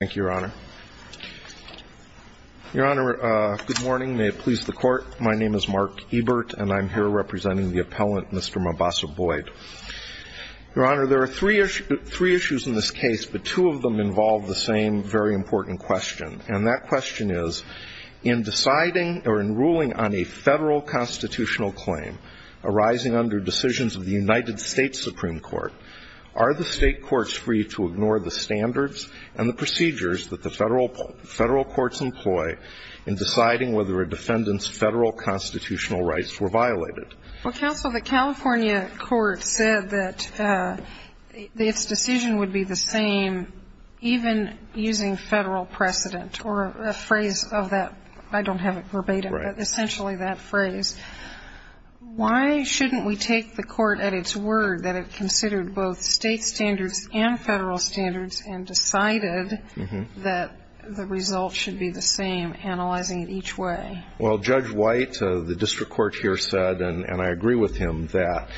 Thank you, Your Honor. Your Honor, good morning. May it please the Court, my name is Mark Ebert, and I'm here representing the appellant, Mr. Mabassa Boyd. Your Honor, there are three issues in this case, but two of them involve the same very important question, and that question is, in deciding or in ruling on a federal constitutional claim arising under decisions of the United States Supreme Court, are the state courts free to ignore the standards and the procedures that the federal courts employ in deciding whether a defendant's federal constitutional rights were violated? Well, counsel, the California court said that its decision would be the same even using federal precedent, or a phrase of that, I don't have it verbatim, but essentially that phrase. Why shouldn't we take the court at its word that it considered both state standards and federal standards and decided that the result should be the same, analyzing it each way? Well, Judge White, the district court here said, and I agree with him, that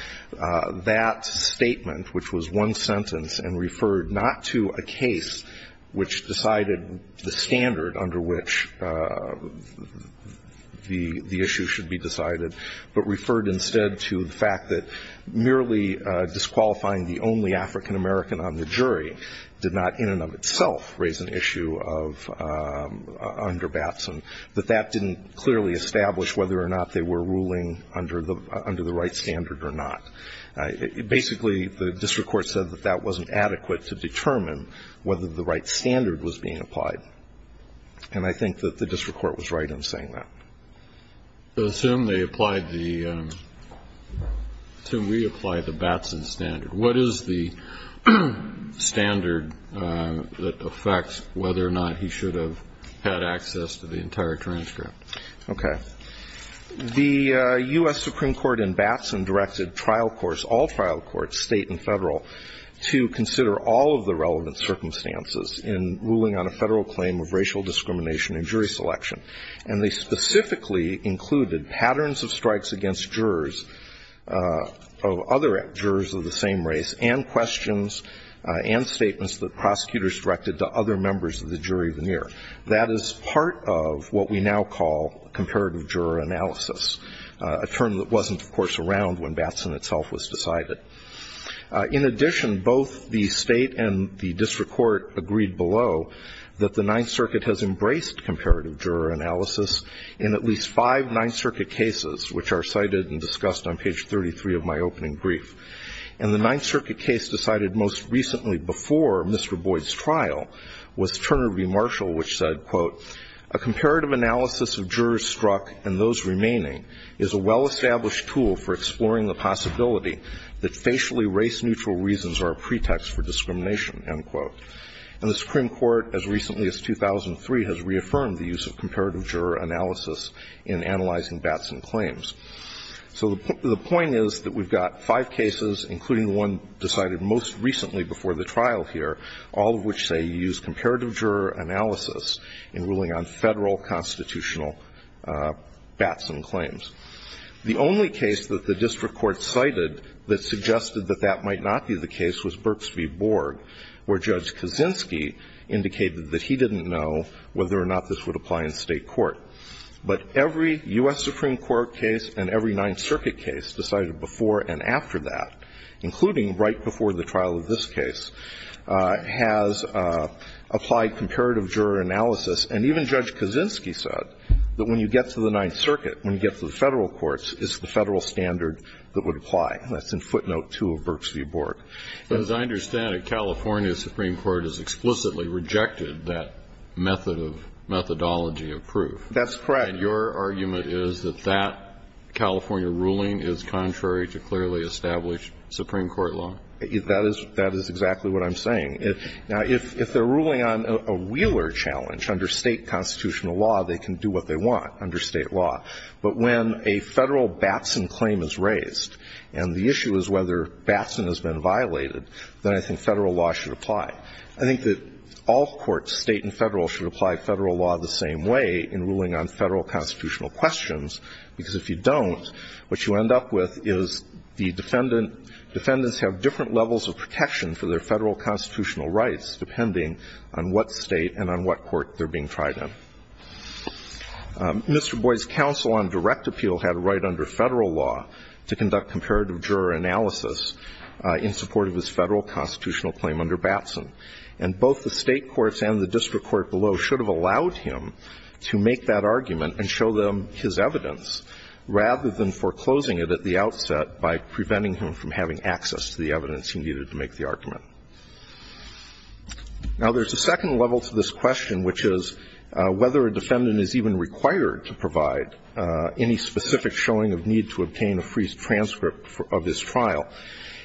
that statement, which was one sentence, and referred not to a case which decided the standard under which the issue should be decided, but referred instead to the fact that merely disqualifying the only African-American on the jury did not in and of itself raise an issue of under Batson, that that didn't clearly establish whether or not they were ruling under the right standard or not. Basically, the district court said that that wasn't adequate to determine whether the right standard was being applied, and I think that the district court was right in saying that. So assume they applied the – assume we applied the Batson standard. What is the standard that affects whether or not he should have had access to the entire transcript? Okay. The U.S. Supreme Court in Batson directed trial courts, all trial courts, state and federal, to consider all of the relevant circumstances in ruling on a federal claim of racial discrimination in jury selection. And they specifically included patterns of strikes against jurors of other jurors of the same race and questions and statements that prosecutors directed to other members of the jury veneer. That is part of what we now call comparative juror analysis, a term that wasn't, of course, around when Batson itself was decided. In addition, both the state and the district court agreed below that the Ninth Circuit has embraced comparative juror analysis in at least five Ninth Circuit cases, which are cited and discussed on page 33 of my opening brief. And the Ninth Circuit case decided most recently before Mr. Boyd's trial was Turner v. Marshall, which said, quote, a comparative analysis of jurors struck and those remaining is a well-established tool for exploring the possibility that facially race-neutral reasons are a pretext for discrimination, end quote. And the Supreme Court, as recently as 2003, has reaffirmed the use of comparative juror analysis in analyzing Batson claims. So the point is that we've got five cases, including the one decided most recently before the trial here, all of which say you use comparative juror analysis in ruling on federal constitutional Batson claims. The only case that the district court cited that suggested that that might not be the case is the one that Judge Kaczynski indicated that he didn't know whether or not this would apply in state court. But every U.S. Supreme Court case and every Ninth Circuit case decided before and after that, including right before the trial of this case, has applied comparative juror analysis. And even Judge Kaczynski said that when you get to the Ninth Circuit, when you get to the federal courts, it's the federal standard that would apply. That's in footnote two of Burks v. Bork. But as I understand it, California Supreme Court has explicitly rejected that methodology of proof. That's correct. And your argument is that that California ruling is contrary to clearly established Supreme Court law? That is exactly what I'm saying. Now, if they're ruling on a Wheeler challenge under state constitutional law, they can do what they want under state law. But when a federal Batson claim is raised and the issue is whether Batson has been violated, then I think federal law should apply. I think that all courts, state and federal, should apply federal law the same way in ruling on federal constitutional questions, because if you don't, what you end up with is the defendant – defendants have different levels of protection for their federal constitutional rights depending on what state and on what court they're being tried in. Mr. Boyd's counsel on direct appeal had a right under federal law to conduct comparative juror analysis in support of his federal constitutional claim under Batson. And both the state courts and the district court below should have allowed him to make that argument and show them his evidence rather than foreclosing it at the outset by preventing him from having access to the evidence he needed to make the argument. Now, there's a second level to this question, which is whether a defendant is even required to provide any specific showing of need to obtain a free transcript of his trial.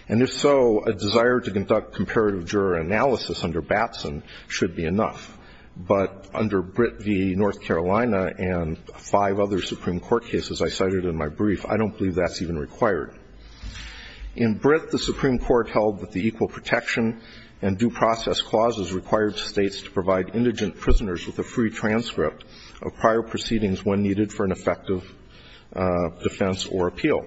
And if so, a desire to conduct comparative juror analysis under Batson should be enough. But under Britt v. North Carolina and five other Supreme Court cases I cited in my brief, I don't believe that's even required. In Britt, the Supreme Court held that the equal protection and due process clauses required states to provide indigent prisoners with a free transcript of prior proceedings when needed for an effective defense or appeal.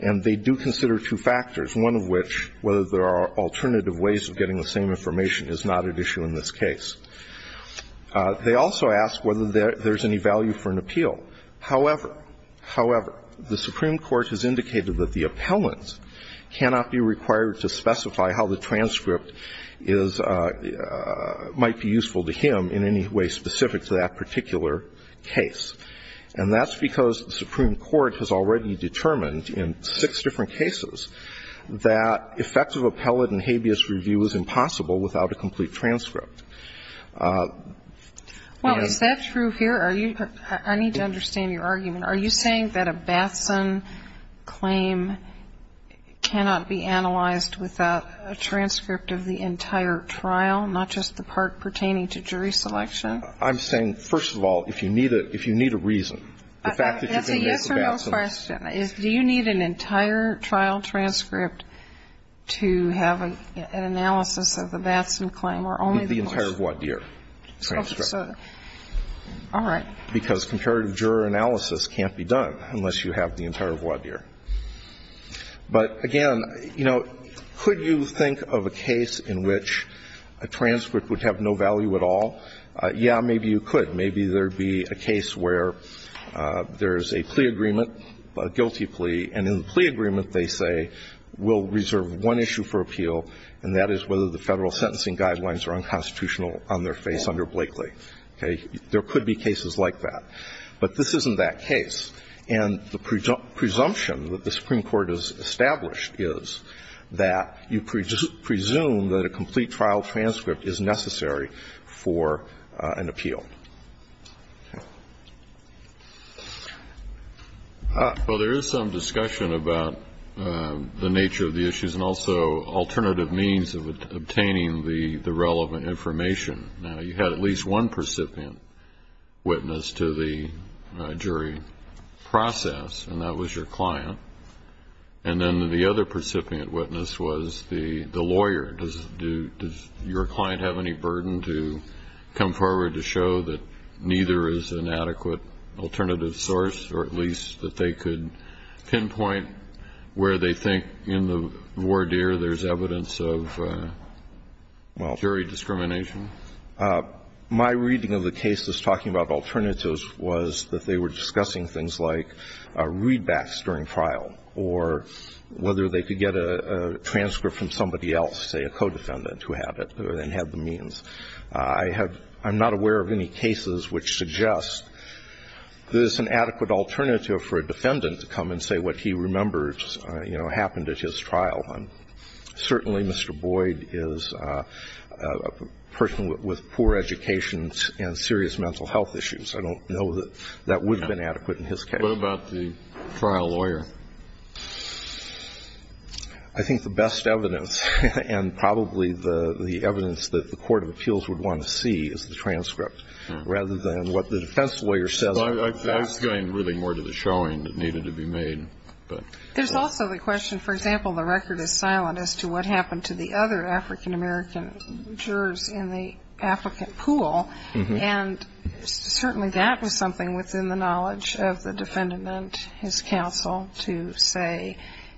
And they do consider two factors, one of which, whether there are alternative ways of getting the same information, is not at issue in this case. However, however, the Supreme Court has indicated that the appellant cannot be required to specify how the transcript is – might be useful to him in any way specific to that particular case. And that's because the Supreme Court has already determined in six different cases that effective appellate and habeas review is impossible without a complete transcript. Well, is that true here? Are you – I need to understand your argument. Are you saying that a Batson claim cannot be analyzed without a transcript of the entire trial, not just the part pertaining to jury selection? I'm saying, first of all, if you need a – if you need a reason, the fact that you can make a Batson. That's a yes or no question. Do you need an entire trial transcript to have an analysis of the Batson claim or only the transcript? The entire voir dire transcript. Oh, so – all right. Because comparative juror analysis can't be done unless you have the entire voir dire. But, again, you know, could you think of a case in which a transcript would have no value at all? Yeah, maybe you could. Maybe there would be a case where there's a plea agreement, a guilty plea, and in the plea agreement they say, we'll reserve one issue for appeal, and that is whether the federal sentencing guidelines are unconstitutional on their face under Blakely. Okay? There could be cases like that. But this isn't that case. And the presumption that the Supreme Court has established is that you presume that a complete trial transcript is necessary for an appeal. Well, there is some discussion about the nature of the issues and also alternative means of obtaining the relevant information. Now, you had at least one recipient witness to the jury process, and that was your client. And then the other recipient witness was the lawyer. Does your client have any burden to come forward to show that neither is an adequate alternative source or at least that they could pinpoint where they were at in terms of jury discrimination? My reading of the cases talking about alternatives was that they were discussing things like readbacks during trial or whether they could get a transcript from somebody else, say a co-defendant who had it and had the means. I'm not aware of any cases which suggest there's an adequate alternative for a co-defendant. Mr. Boyd is a person with poor education and serious mental health issues. I don't know that that would have been adequate in his case. What about the trial lawyer? I think the best evidence and probably the evidence that the court of appeals would want to see is the transcript rather than what the defense lawyer says. I was going really more to the showing that needed to be made. There's also the question, for example, the record is silent as to what happened to the other African-American jurors in the African pool. And certainly that was something within the knowledge of the defendant and his counsel to say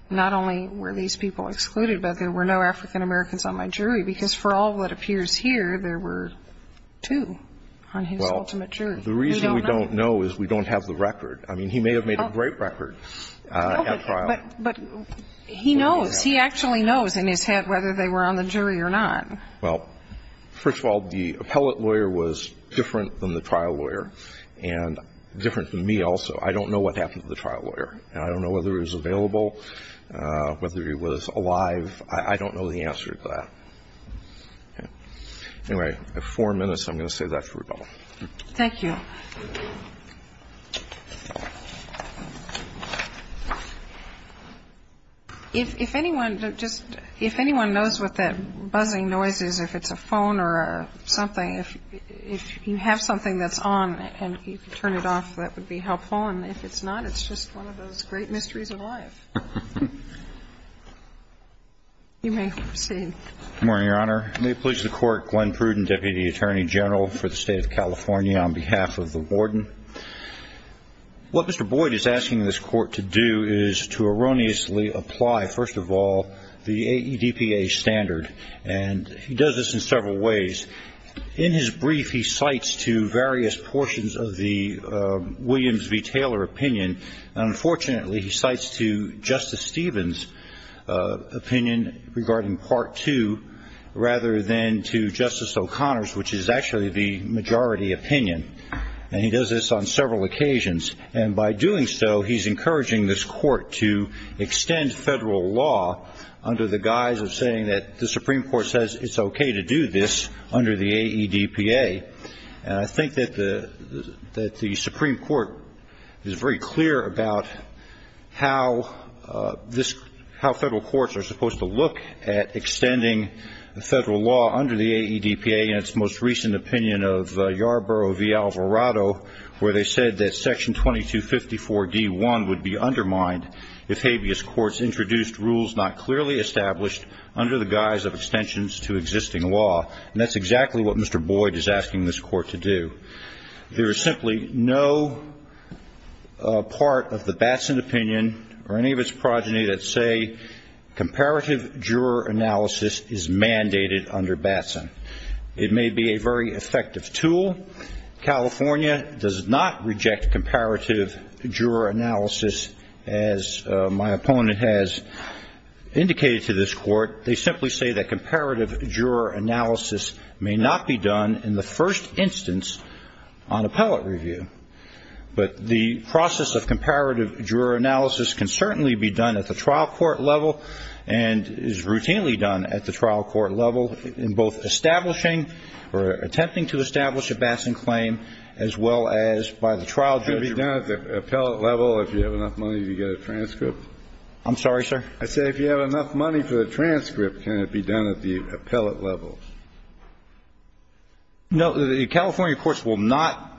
not only were these people excluded, but there were no African- Americans on my jury because for all that appears here, there were two on his ultimate jury. I mean, he may have made a great record at trial. But he knows. He actually knows in his head whether they were on the jury or not. Well, first of all, the appellate lawyer was different than the trial lawyer and different than me also. I don't know what happened to the trial lawyer. I don't know whether he was available, whether he was alive. I don't know the answer to that. Anyway, I have four minutes. I'm going to say that for a double. Thank you. If anyone just, if anyone knows what that buzzing noise is, if it's a phone or something, if you have something that's on and you can turn it off, that would be helpful. And if it's not, it's just one of those great mysteries of life. You may proceed. Good morning, Your Honor. May it please the Court, Gwen Pruden, Deputy Attorney General for the State of the Board. What Mr. Boyd is asking this Court to do is to erroneously apply, first of all, the AEDPA standard. And he does this in several ways. In his brief, he cites to various portions of the Williams v. Taylor opinion. Unfortunately, he cites to Justice Stevens' opinion regarding Part 2 rather than to Justice O'Connor's, which is actually the majority opinion. And he does this on several occasions. And by doing so, he's encouraging this Court to extend federal law under the guise of saying that the Supreme Court says it's okay to do this under the AEDPA. And I think that the Supreme Court is very clear about how this, how federal law under the AEDPA, in its most recent opinion of Yarborough v. Alvarado, where they said that Section 2254d.1 would be undermined if habeas courts introduced rules not clearly established under the guise of extensions to existing law. And that's exactly what Mr. Boyd is asking this Court to do. There is simply no part of the Batson opinion or any of its progeny that say comparative juror analysis is mandated under Batson. It may be a very effective tool. California does not reject comparative juror analysis, as my opponent has indicated to this Court. They simply say that comparative juror analysis may not be done in the first instance on appellate review. But the process of comparative juror analysis can certainly be done at the trial court level and is routinely done at the trial court level in both establishing or attempting to establish a Batson claim as well as by the trial judge. Can it be done at the appellate level if you have enough money to get a transcript? I'm sorry, sir? I said if you have enough money for a transcript, can it be done at the appellate level? No, the California courts will not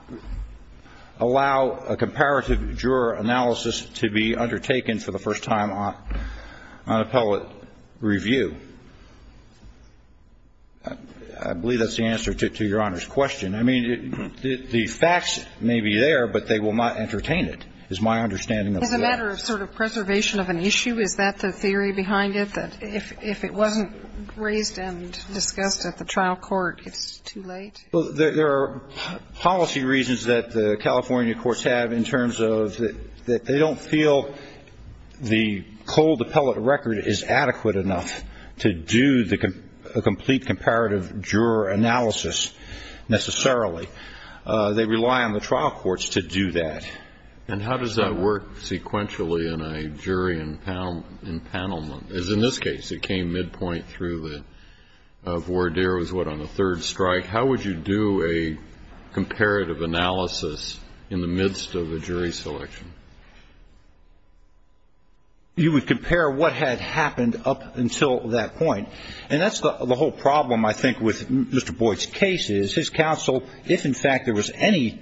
allow a comparative juror analysis to be done at the appellate level. I believe that's the answer to Your Honor's question. I mean, the facts may be there, but they will not entertain it, is my understanding of that. Is it a matter of sort of preservation of an issue? Is that the theory behind it, that if it wasn't raised and discussed at the trial court, it's too late? There are policy reasons that the California courts have in terms of they don't feel the cold appellate record is adequate enough to do the complete comparative juror analysis necessarily. They rely on the trial courts to do that. And how does that work sequentially in a jury empanelment? As in this case, it came midpoint through the voir dire was what on the third strike. How would you do a comparative analysis in the midst of a jury selection? You would compare what had happened up until that point. And that's the whole problem, I think, with Mr. Boyd's case is his counsel, if in fact there was any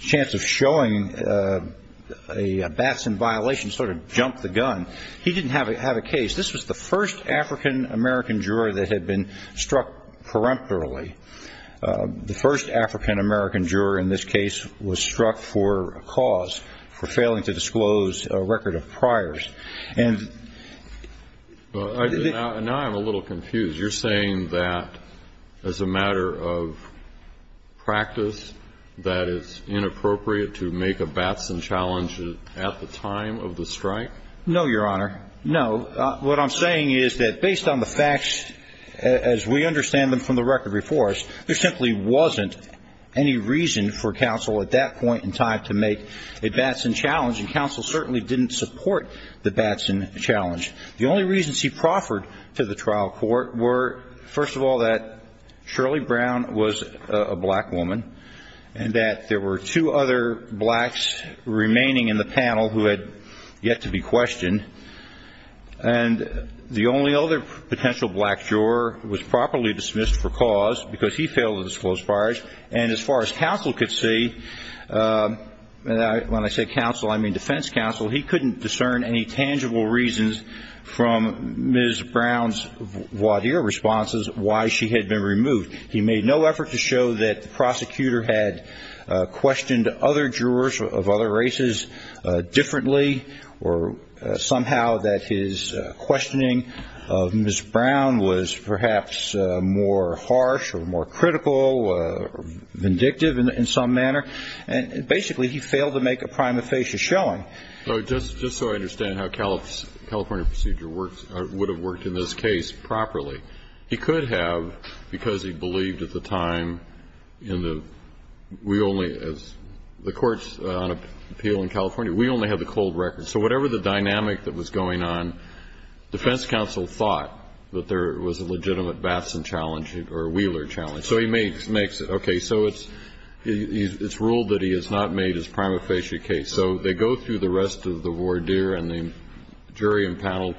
chance of showing a Batson violation, sort of jumped the gun. He didn't have a case. This was the first African-American juror that had been struck peremptorily. The first African-American juror in this case was struck for a cause, for failing to disclose a record of priors. Now I'm a little confused. You're saying that as a matter of practice, that it's inappropriate to make a Batson challenge at the time of the strike? No, Your Honor. No. What I'm saying is that based on the facts, as we understand them from the record before us, there simply wasn't any reason for counsel at that point in time to make a Batson challenge, and counsel certainly didn't support the Batson challenge. The only reasons he proffered to the trial court were, first of all, that Shirley Brown was a black woman and that there were two other blacks remaining in the panel who had yet to be questioned, and the only other potential black juror was properly dismissed for cause because he failed to disclose priors. And as far as counsel could see, when I say counsel, I mean defense counsel, he couldn't discern any tangible reasons from Ms. Brown's voir dire responses why she had been removed. He made no effort to show that the prosecutor had questioned other jurors of other races differently or somehow that his questioning of Ms. Brown was perhaps more harsh or more critical or vindictive in some manner. And basically, he failed to make a prima facie showing. So just so I understand how California procedure would have worked in this case properly, he could have because he believed at the time in the we only as the courts on appeal in California, we only have the cold records. So whatever the dynamic that was going on, defense counsel thought that there was a legitimate Batson challenge or Wheeler challenge. So he makes it. Okay. So it's ruled that he has not made his prima facie case. So they go through the rest of the voir dire and the jury and panel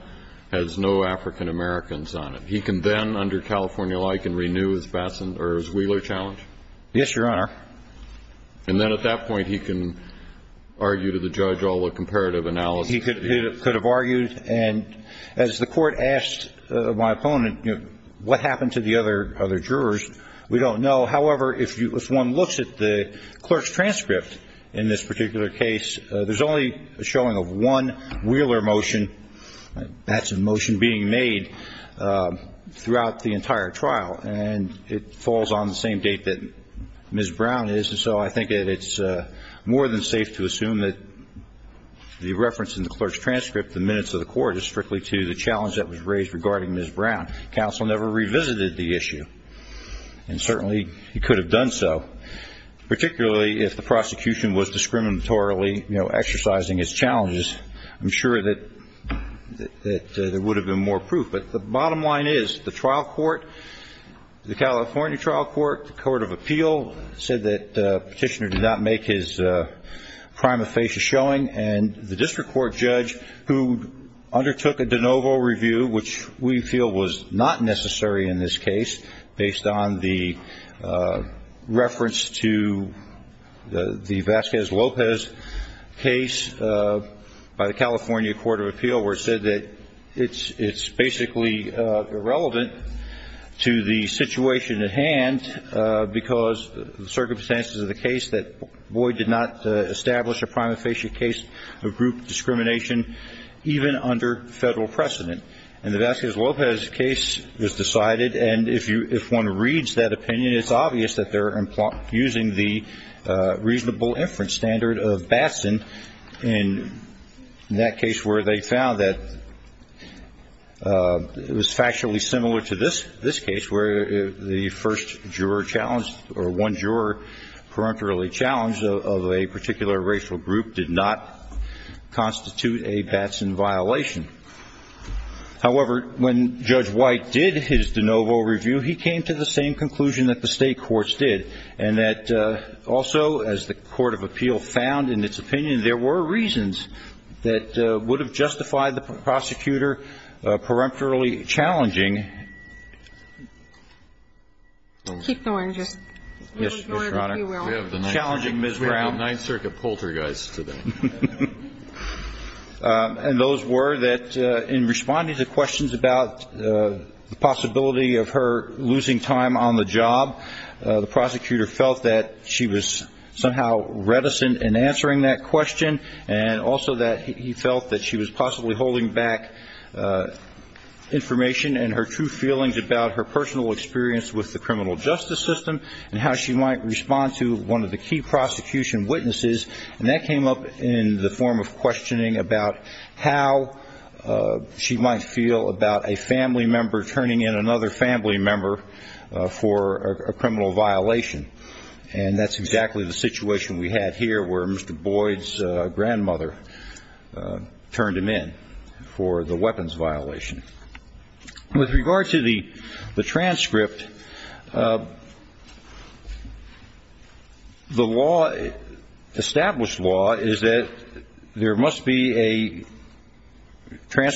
has no African-Americans on it. He can then, under California law, he can renew his Batson or his Wheeler challenge? Yes, Your Honor. And then at that point, he can argue to the judge all the comparative analysis? He could have argued. And as the court asked my opponent, you know, what happened to the other jurors? We don't know. However, if one looks at the clerk's transcript in this particular case, there's only a showing of one Wheeler motion. That's a motion being made throughout the entire trial. And it falls on the same date that Ms. Brown is. And so I think that it's more than safe to assume that the reference in the clerk's transcript, the minutes of the court, is strictly to the challenge that was raised regarding Ms. Brown. Counsel never revisited the issue. And certainly, he could have done so, particularly if the prosecution was discriminatorily, you know, exercising its challenges. I'm sure that there would have been more proof. But the bottom line is, the trial court, the California trial court, the Court of Appeal, said that Petitioner did not make his prime of face showing. And the district court judge, who undertook a de novo review, which we feel was not necessary in this case, based on the reference to the Vasquez-Lopez case by the Vasquez-Lopez case was decided. inference standard of Batson in that case where they found that the case was particularly relevant to the situation at hand because the circumstances of the case that Boyd did not establish a prime of facial case of group discrimination even under federal precedent. And the Vasquez-Lopez case was decided. And if one reads that opinion, it's obvious that they're using the reasonable inference standard of Batson in that case where they found that it was factually similar to this case where the first juror challenged or one juror perennially challenged of a particular racial group did not constitute a Batson violation. However, when Judge White did his de novo review, he came to the same conclusion that the state courts did and that also as the court of appeal found in its opinion there were reasons that would have justified the prosecutor peremptorily challenging. Ms. Brown. We have a Ninth Circuit poltergeist today. And those were that in responding to questions about the possibility of her losing time on the job, the prosecutor felt that she was somehow reticent in answering that question. And also that he felt that she was possibly holding back information and her true feelings about her personal experience with the criminal justice system and how she might respond to one of the key prosecution witnesses. And that came up in the form of questioning about how she might feel about a family member for a criminal violation. And that's exactly the situation we had here where Mr. Boyd's grandmother turned him in for the weapons violation. With regard to the transcript, the law, established law, is that there must be a there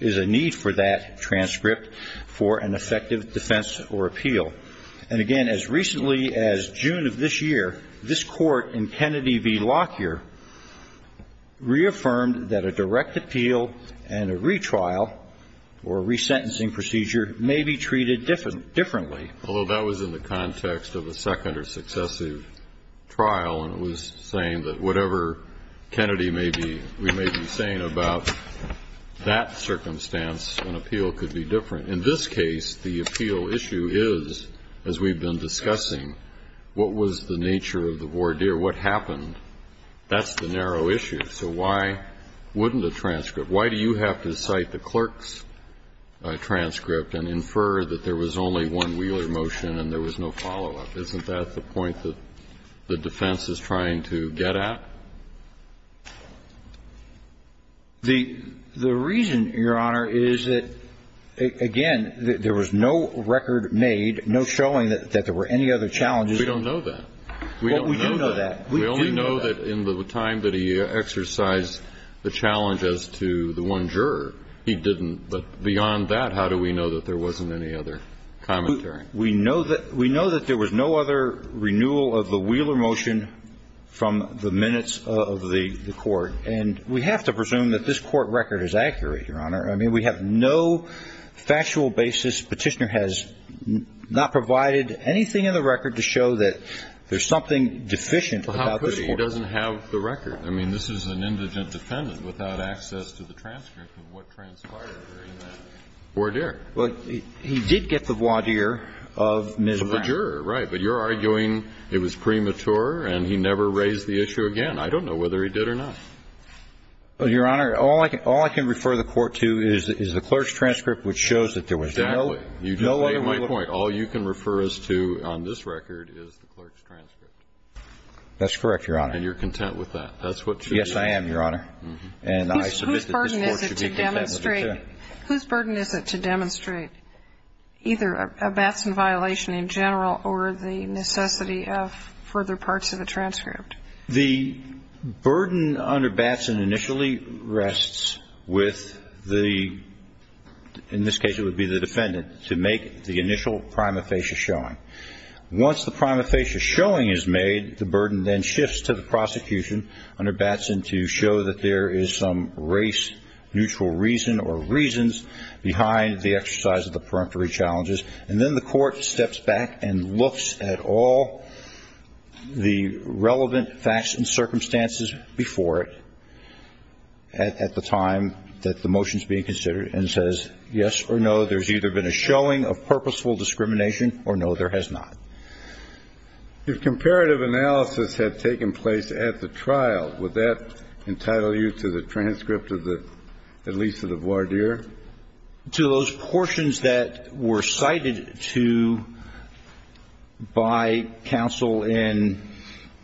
is a need for that transcript for an effective defense or appeal. And again, as recently as June of this year, this court in Kennedy v. Lockyer reaffirmed that a direct appeal and a retrial or a resentencing procedure may be treated differently. Although that was in the context of a second or successive trial and it was saying that whatever Kennedy may be, we may be saying about that circumstance, an appeal could be different. In this case, the appeal issue is, as we've been discussing, what was the nature of the voir dire? What happened? That's the narrow issue. So why wouldn't a transcript? Why do you have to cite the clerk's transcript and infer that there was only one Wheeler motion and there was no follow-up? Isn't that the point that the defense is trying to get at? The reason, Your Honor, is that, again, there was no record made, no showing that there were any other challenges. We don't know that. Well, we do know that. We only know that in the time that he exercised the challenge as to the one juror, he didn't. But beyond that, how do we know that there wasn't any other commentary? We know that there was no other renewal of the Wheeler motion from the minutes of the court. And we have to presume that this court record is accurate, Your Honor. I mean, we have no factual basis. Petitioner has not provided anything in the record to show that there's something deficient about this court. Well, how could he? He doesn't have the record. I mean, this is an indigent defendant without access to the transcript of what transpired during that voir dire. Well, he did get the voir dire of Ms. Brown. Of the juror, right. But you're arguing it was premature and he never raised the issue again. I don't know whether he did or not. Well, Your Honor, all I can refer the court to is the clerk's transcript which shows that there was no other renewal. Exactly. You just made my point. All you can refer us to on this record is the clerk's transcript. That's correct, Your Honor. And you're content with that. That's what you do. Yes, I am, Your Honor. And I submit that this court should be content with it, too. Whose burden is it to demonstrate either a Batson violation in general or the necessity of further parts of a transcript? The burden under Batson initially rests with the, in this case it would be the defendant, to make the initial prima facie showing. Once the prima facie showing is made, the burden then shifts to the prosecution under And then the court steps back and looks at all the relevant facts and circumstances before it at the time that the motion is being considered and says yes or no, there's either been a showing of purposeful discrimination or no, there has not. If comparative analysis had taken place at the trial, would that entitle you to the transcript of the release of the voir dire? To those portions that were cited to by counsel in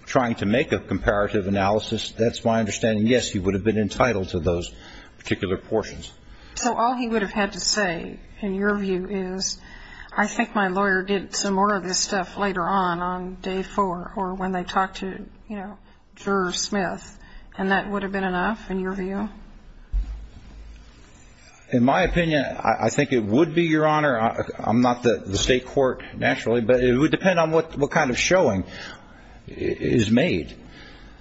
trying to make a comparative analysis, that's my understanding, yes, he would have been entitled to those particular portions. So all he would have had to say, in your view, is I think my lawyer did some more of this stuff later on, on day four, or when they talked to, you know, Juror Smith, and that would have been, in my opinion, I think it would be, Your Honor, I'm not the state court, naturally, but it would depend on what kind of showing is made.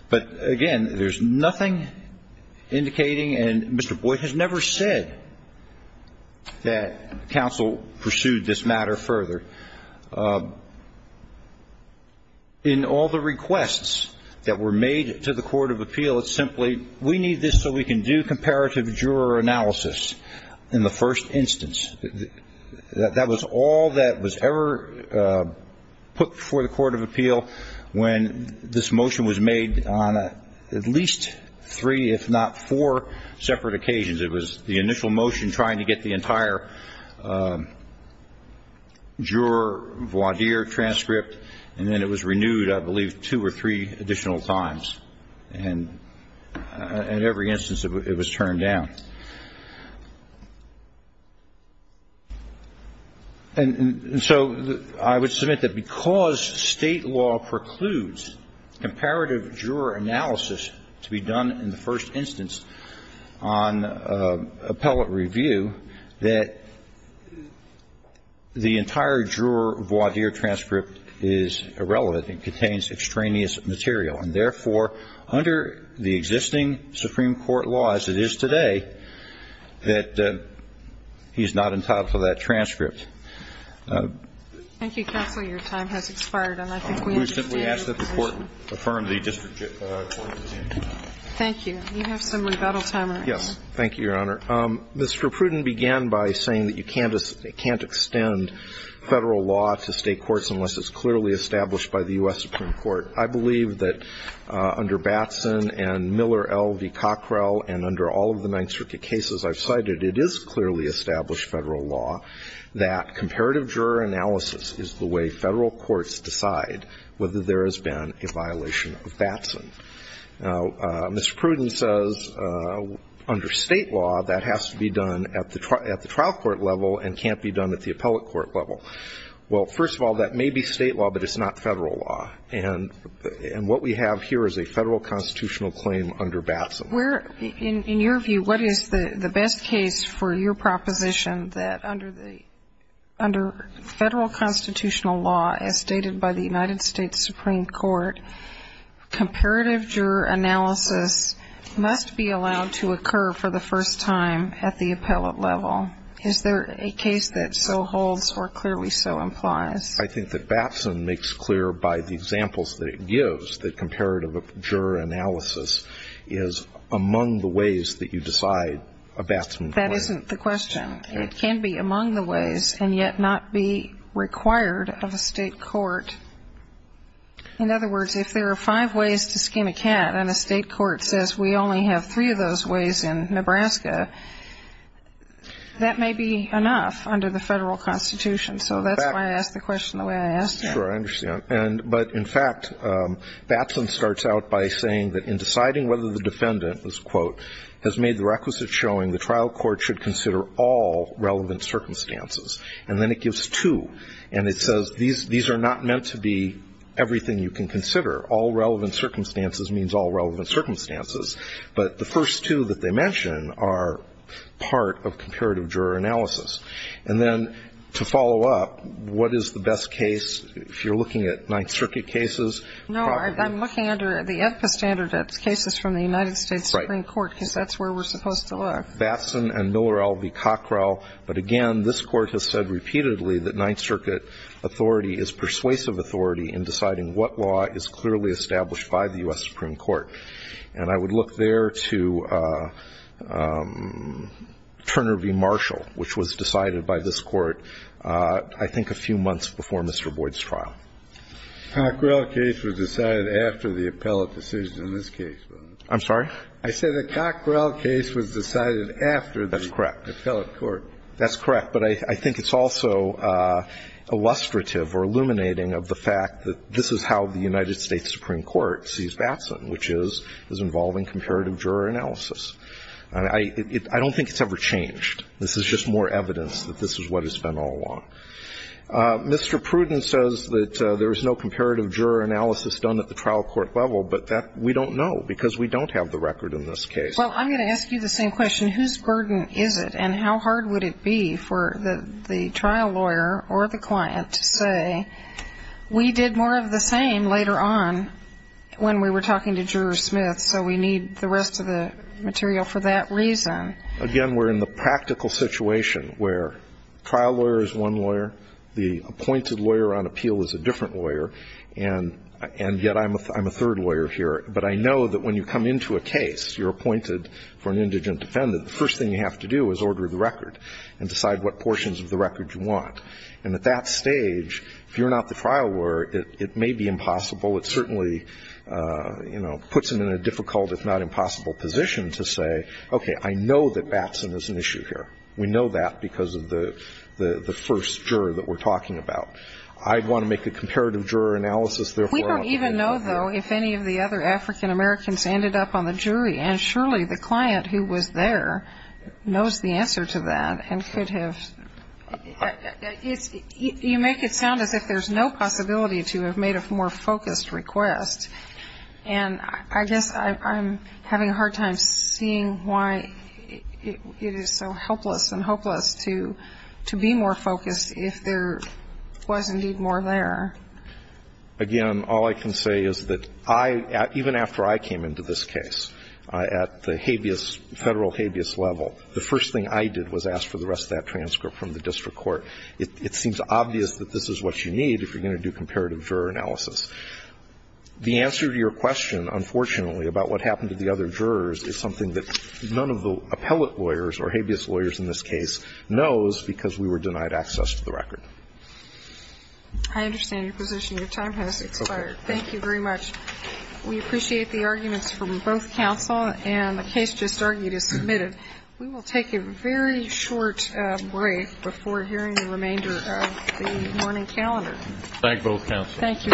But, again, there's nothing indicating, and Mr. Boyd has never said that counsel pursued this matter further. In all the requests that were made to the court of appeal, it's simply, we need this so we can do comparative juror analysis in the first instance. That was all that was ever put before the court of appeal when this motion was made on at least three, if not four, separate occasions. It was the initial motion trying to get the entire juror voir dire transcript, and then it was renewed, I believe, two or three additional times. And in every instance, it was turned down. And so I would submit that because state law precludes comparative juror analysis to be done in the first instance on appellate review, that the entire juror voir dire transcript is irrelevant and contains extraneous material. And, therefore, under the existing Supreme Court law as it is today, that he's not entitled to that transcript. Thank you, counsel. Your time has expired, and I think we understand. We simply ask that the court affirm the district court's decision. Thank you. You have some rebuttal time, right? Yes. Thank you, Your Honor. Mr. Pruden began by saying that you can't extend federal law to state courts unless it's clearly established by the U.S. Supreme Court. I believe that under Batson and Miller v. Cockrell and under all of the nine circuit cases I've cited, it is clearly established federal law that comparative juror analysis is the way federal courts decide whether there has been a violation of Batson. Now, Mr. Pruden says under state law that has to be done at the trial court level and can't be done at the appellate court level. Well, first of all, that may be state law, but it's not federal law. And what we have here is a federal constitutional claim under Batson. In your view, what is the best case for your proposition that under federal constitutional law, as stated by the United States Supreme Court, comparative juror analysis must be allowed to occur for the first time at the appellate level? Is there a case that so holds or clearly so implies? I think that Batson makes clear by the examples that it gives that comparative juror analysis is among the ways that you decide a Batson claim. That isn't the question. It can be among the ways and yet not be required of a state court. In other words, if there are five ways to skim a can and a state court says we only have three of those ways in Nebraska, that may be enough under the federal constitution. So that's why I asked the question the way I asked it. Sure, I understand. But in fact, Batson starts out by saying that in deciding whether the defendant, quote, has made the requisite showing the trial court should consider all relevant circumstances. And then it gives two. And it says these are not meant to be everything you can consider. All relevant circumstances means all relevant circumstances. But the first two that they mention are part of comparative juror analysis. And then to follow up, what is the best case if you're looking at Ninth Circuit cases? No, I'm looking under the EFPA standard cases from the United States Supreme Court because that's where we're supposed to look. Batson and Miller v. Cockrell. But again, this Court has said repeatedly that Ninth Circuit authority is persuasive authority in deciding what law is clearly established by the U.S. Supreme Court. And I would look there to Turner v. Marshall, which was decided by this Court I think a few months before Mr. Boyd's trial. Cockrell case was decided after the appellate decision in this case. I'm sorry? I said the Cockrell case was decided after the appellate court. That's correct. That's correct. But I think it's also illustrative or illuminating of the fact that this is how the United States Supreme Court sees Batson, which is involving comparative juror analysis. I don't think it's ever changed. This is just more evidence that this is what it's been all along. Mr. Pruden says that there's no comparative juror analysis done at the trial court level, but that we don't know because we don't have the record in this case. Well, I'm going to ask you the same question. Whose burden is it and how hard would it be for the trial lawyer or the client to say, we did more of the same later on when we were talking to Juror Smith, so we need the rest of the material for that reason? Again, we're in the practical situation where the trial lawyer is one lawyer. The appointed lawyer on appeal is a different lawyer. And yet I'm a third lawyer here. But I know that when you come into a case, you're appointed for an indigent defendant, the first thing you have to do is order the record and decide what portions of the record you want. And at that stage, if you're not the trial lawyer, it may be impossible. It certainly puts them in a difficult, if not impossible, position to say, okay, I know that Batson is an issue here. We know that because of the first juror that we're talking about. I'd want to make a comparative juror analysis. We don't even know, though, if any of the other African-Americans ended up on the jury. And surely the client who was there knows the answer to that and could have you make it sound as if there's no possibility to have made a more focused request. And I guess I'm having a hard time seeing why it is so helpless and hopeless to be more focused if there was indeed more there. Again, all I can say is that I, even after I came into this case, at the habeas, Federal habeas level, the first thing I did was ask for the rest of that transcript from the district court. It seems obvious that this is what you need if you're going to do comparative juror analysis. The answer to your question, unfortunately, about what happened to the other jurors is something that none of the appellate lawyers or habeas lawyers in this case knows because we were denied access to the record. I understand your position. Your time has expired. Thank you very much. We appreciate the arguments from both counsel, and the case just argued is submitted. We will take a very short break before hearing the remainder of the morning calendar. Thank both counsel. Thank you. Thank you.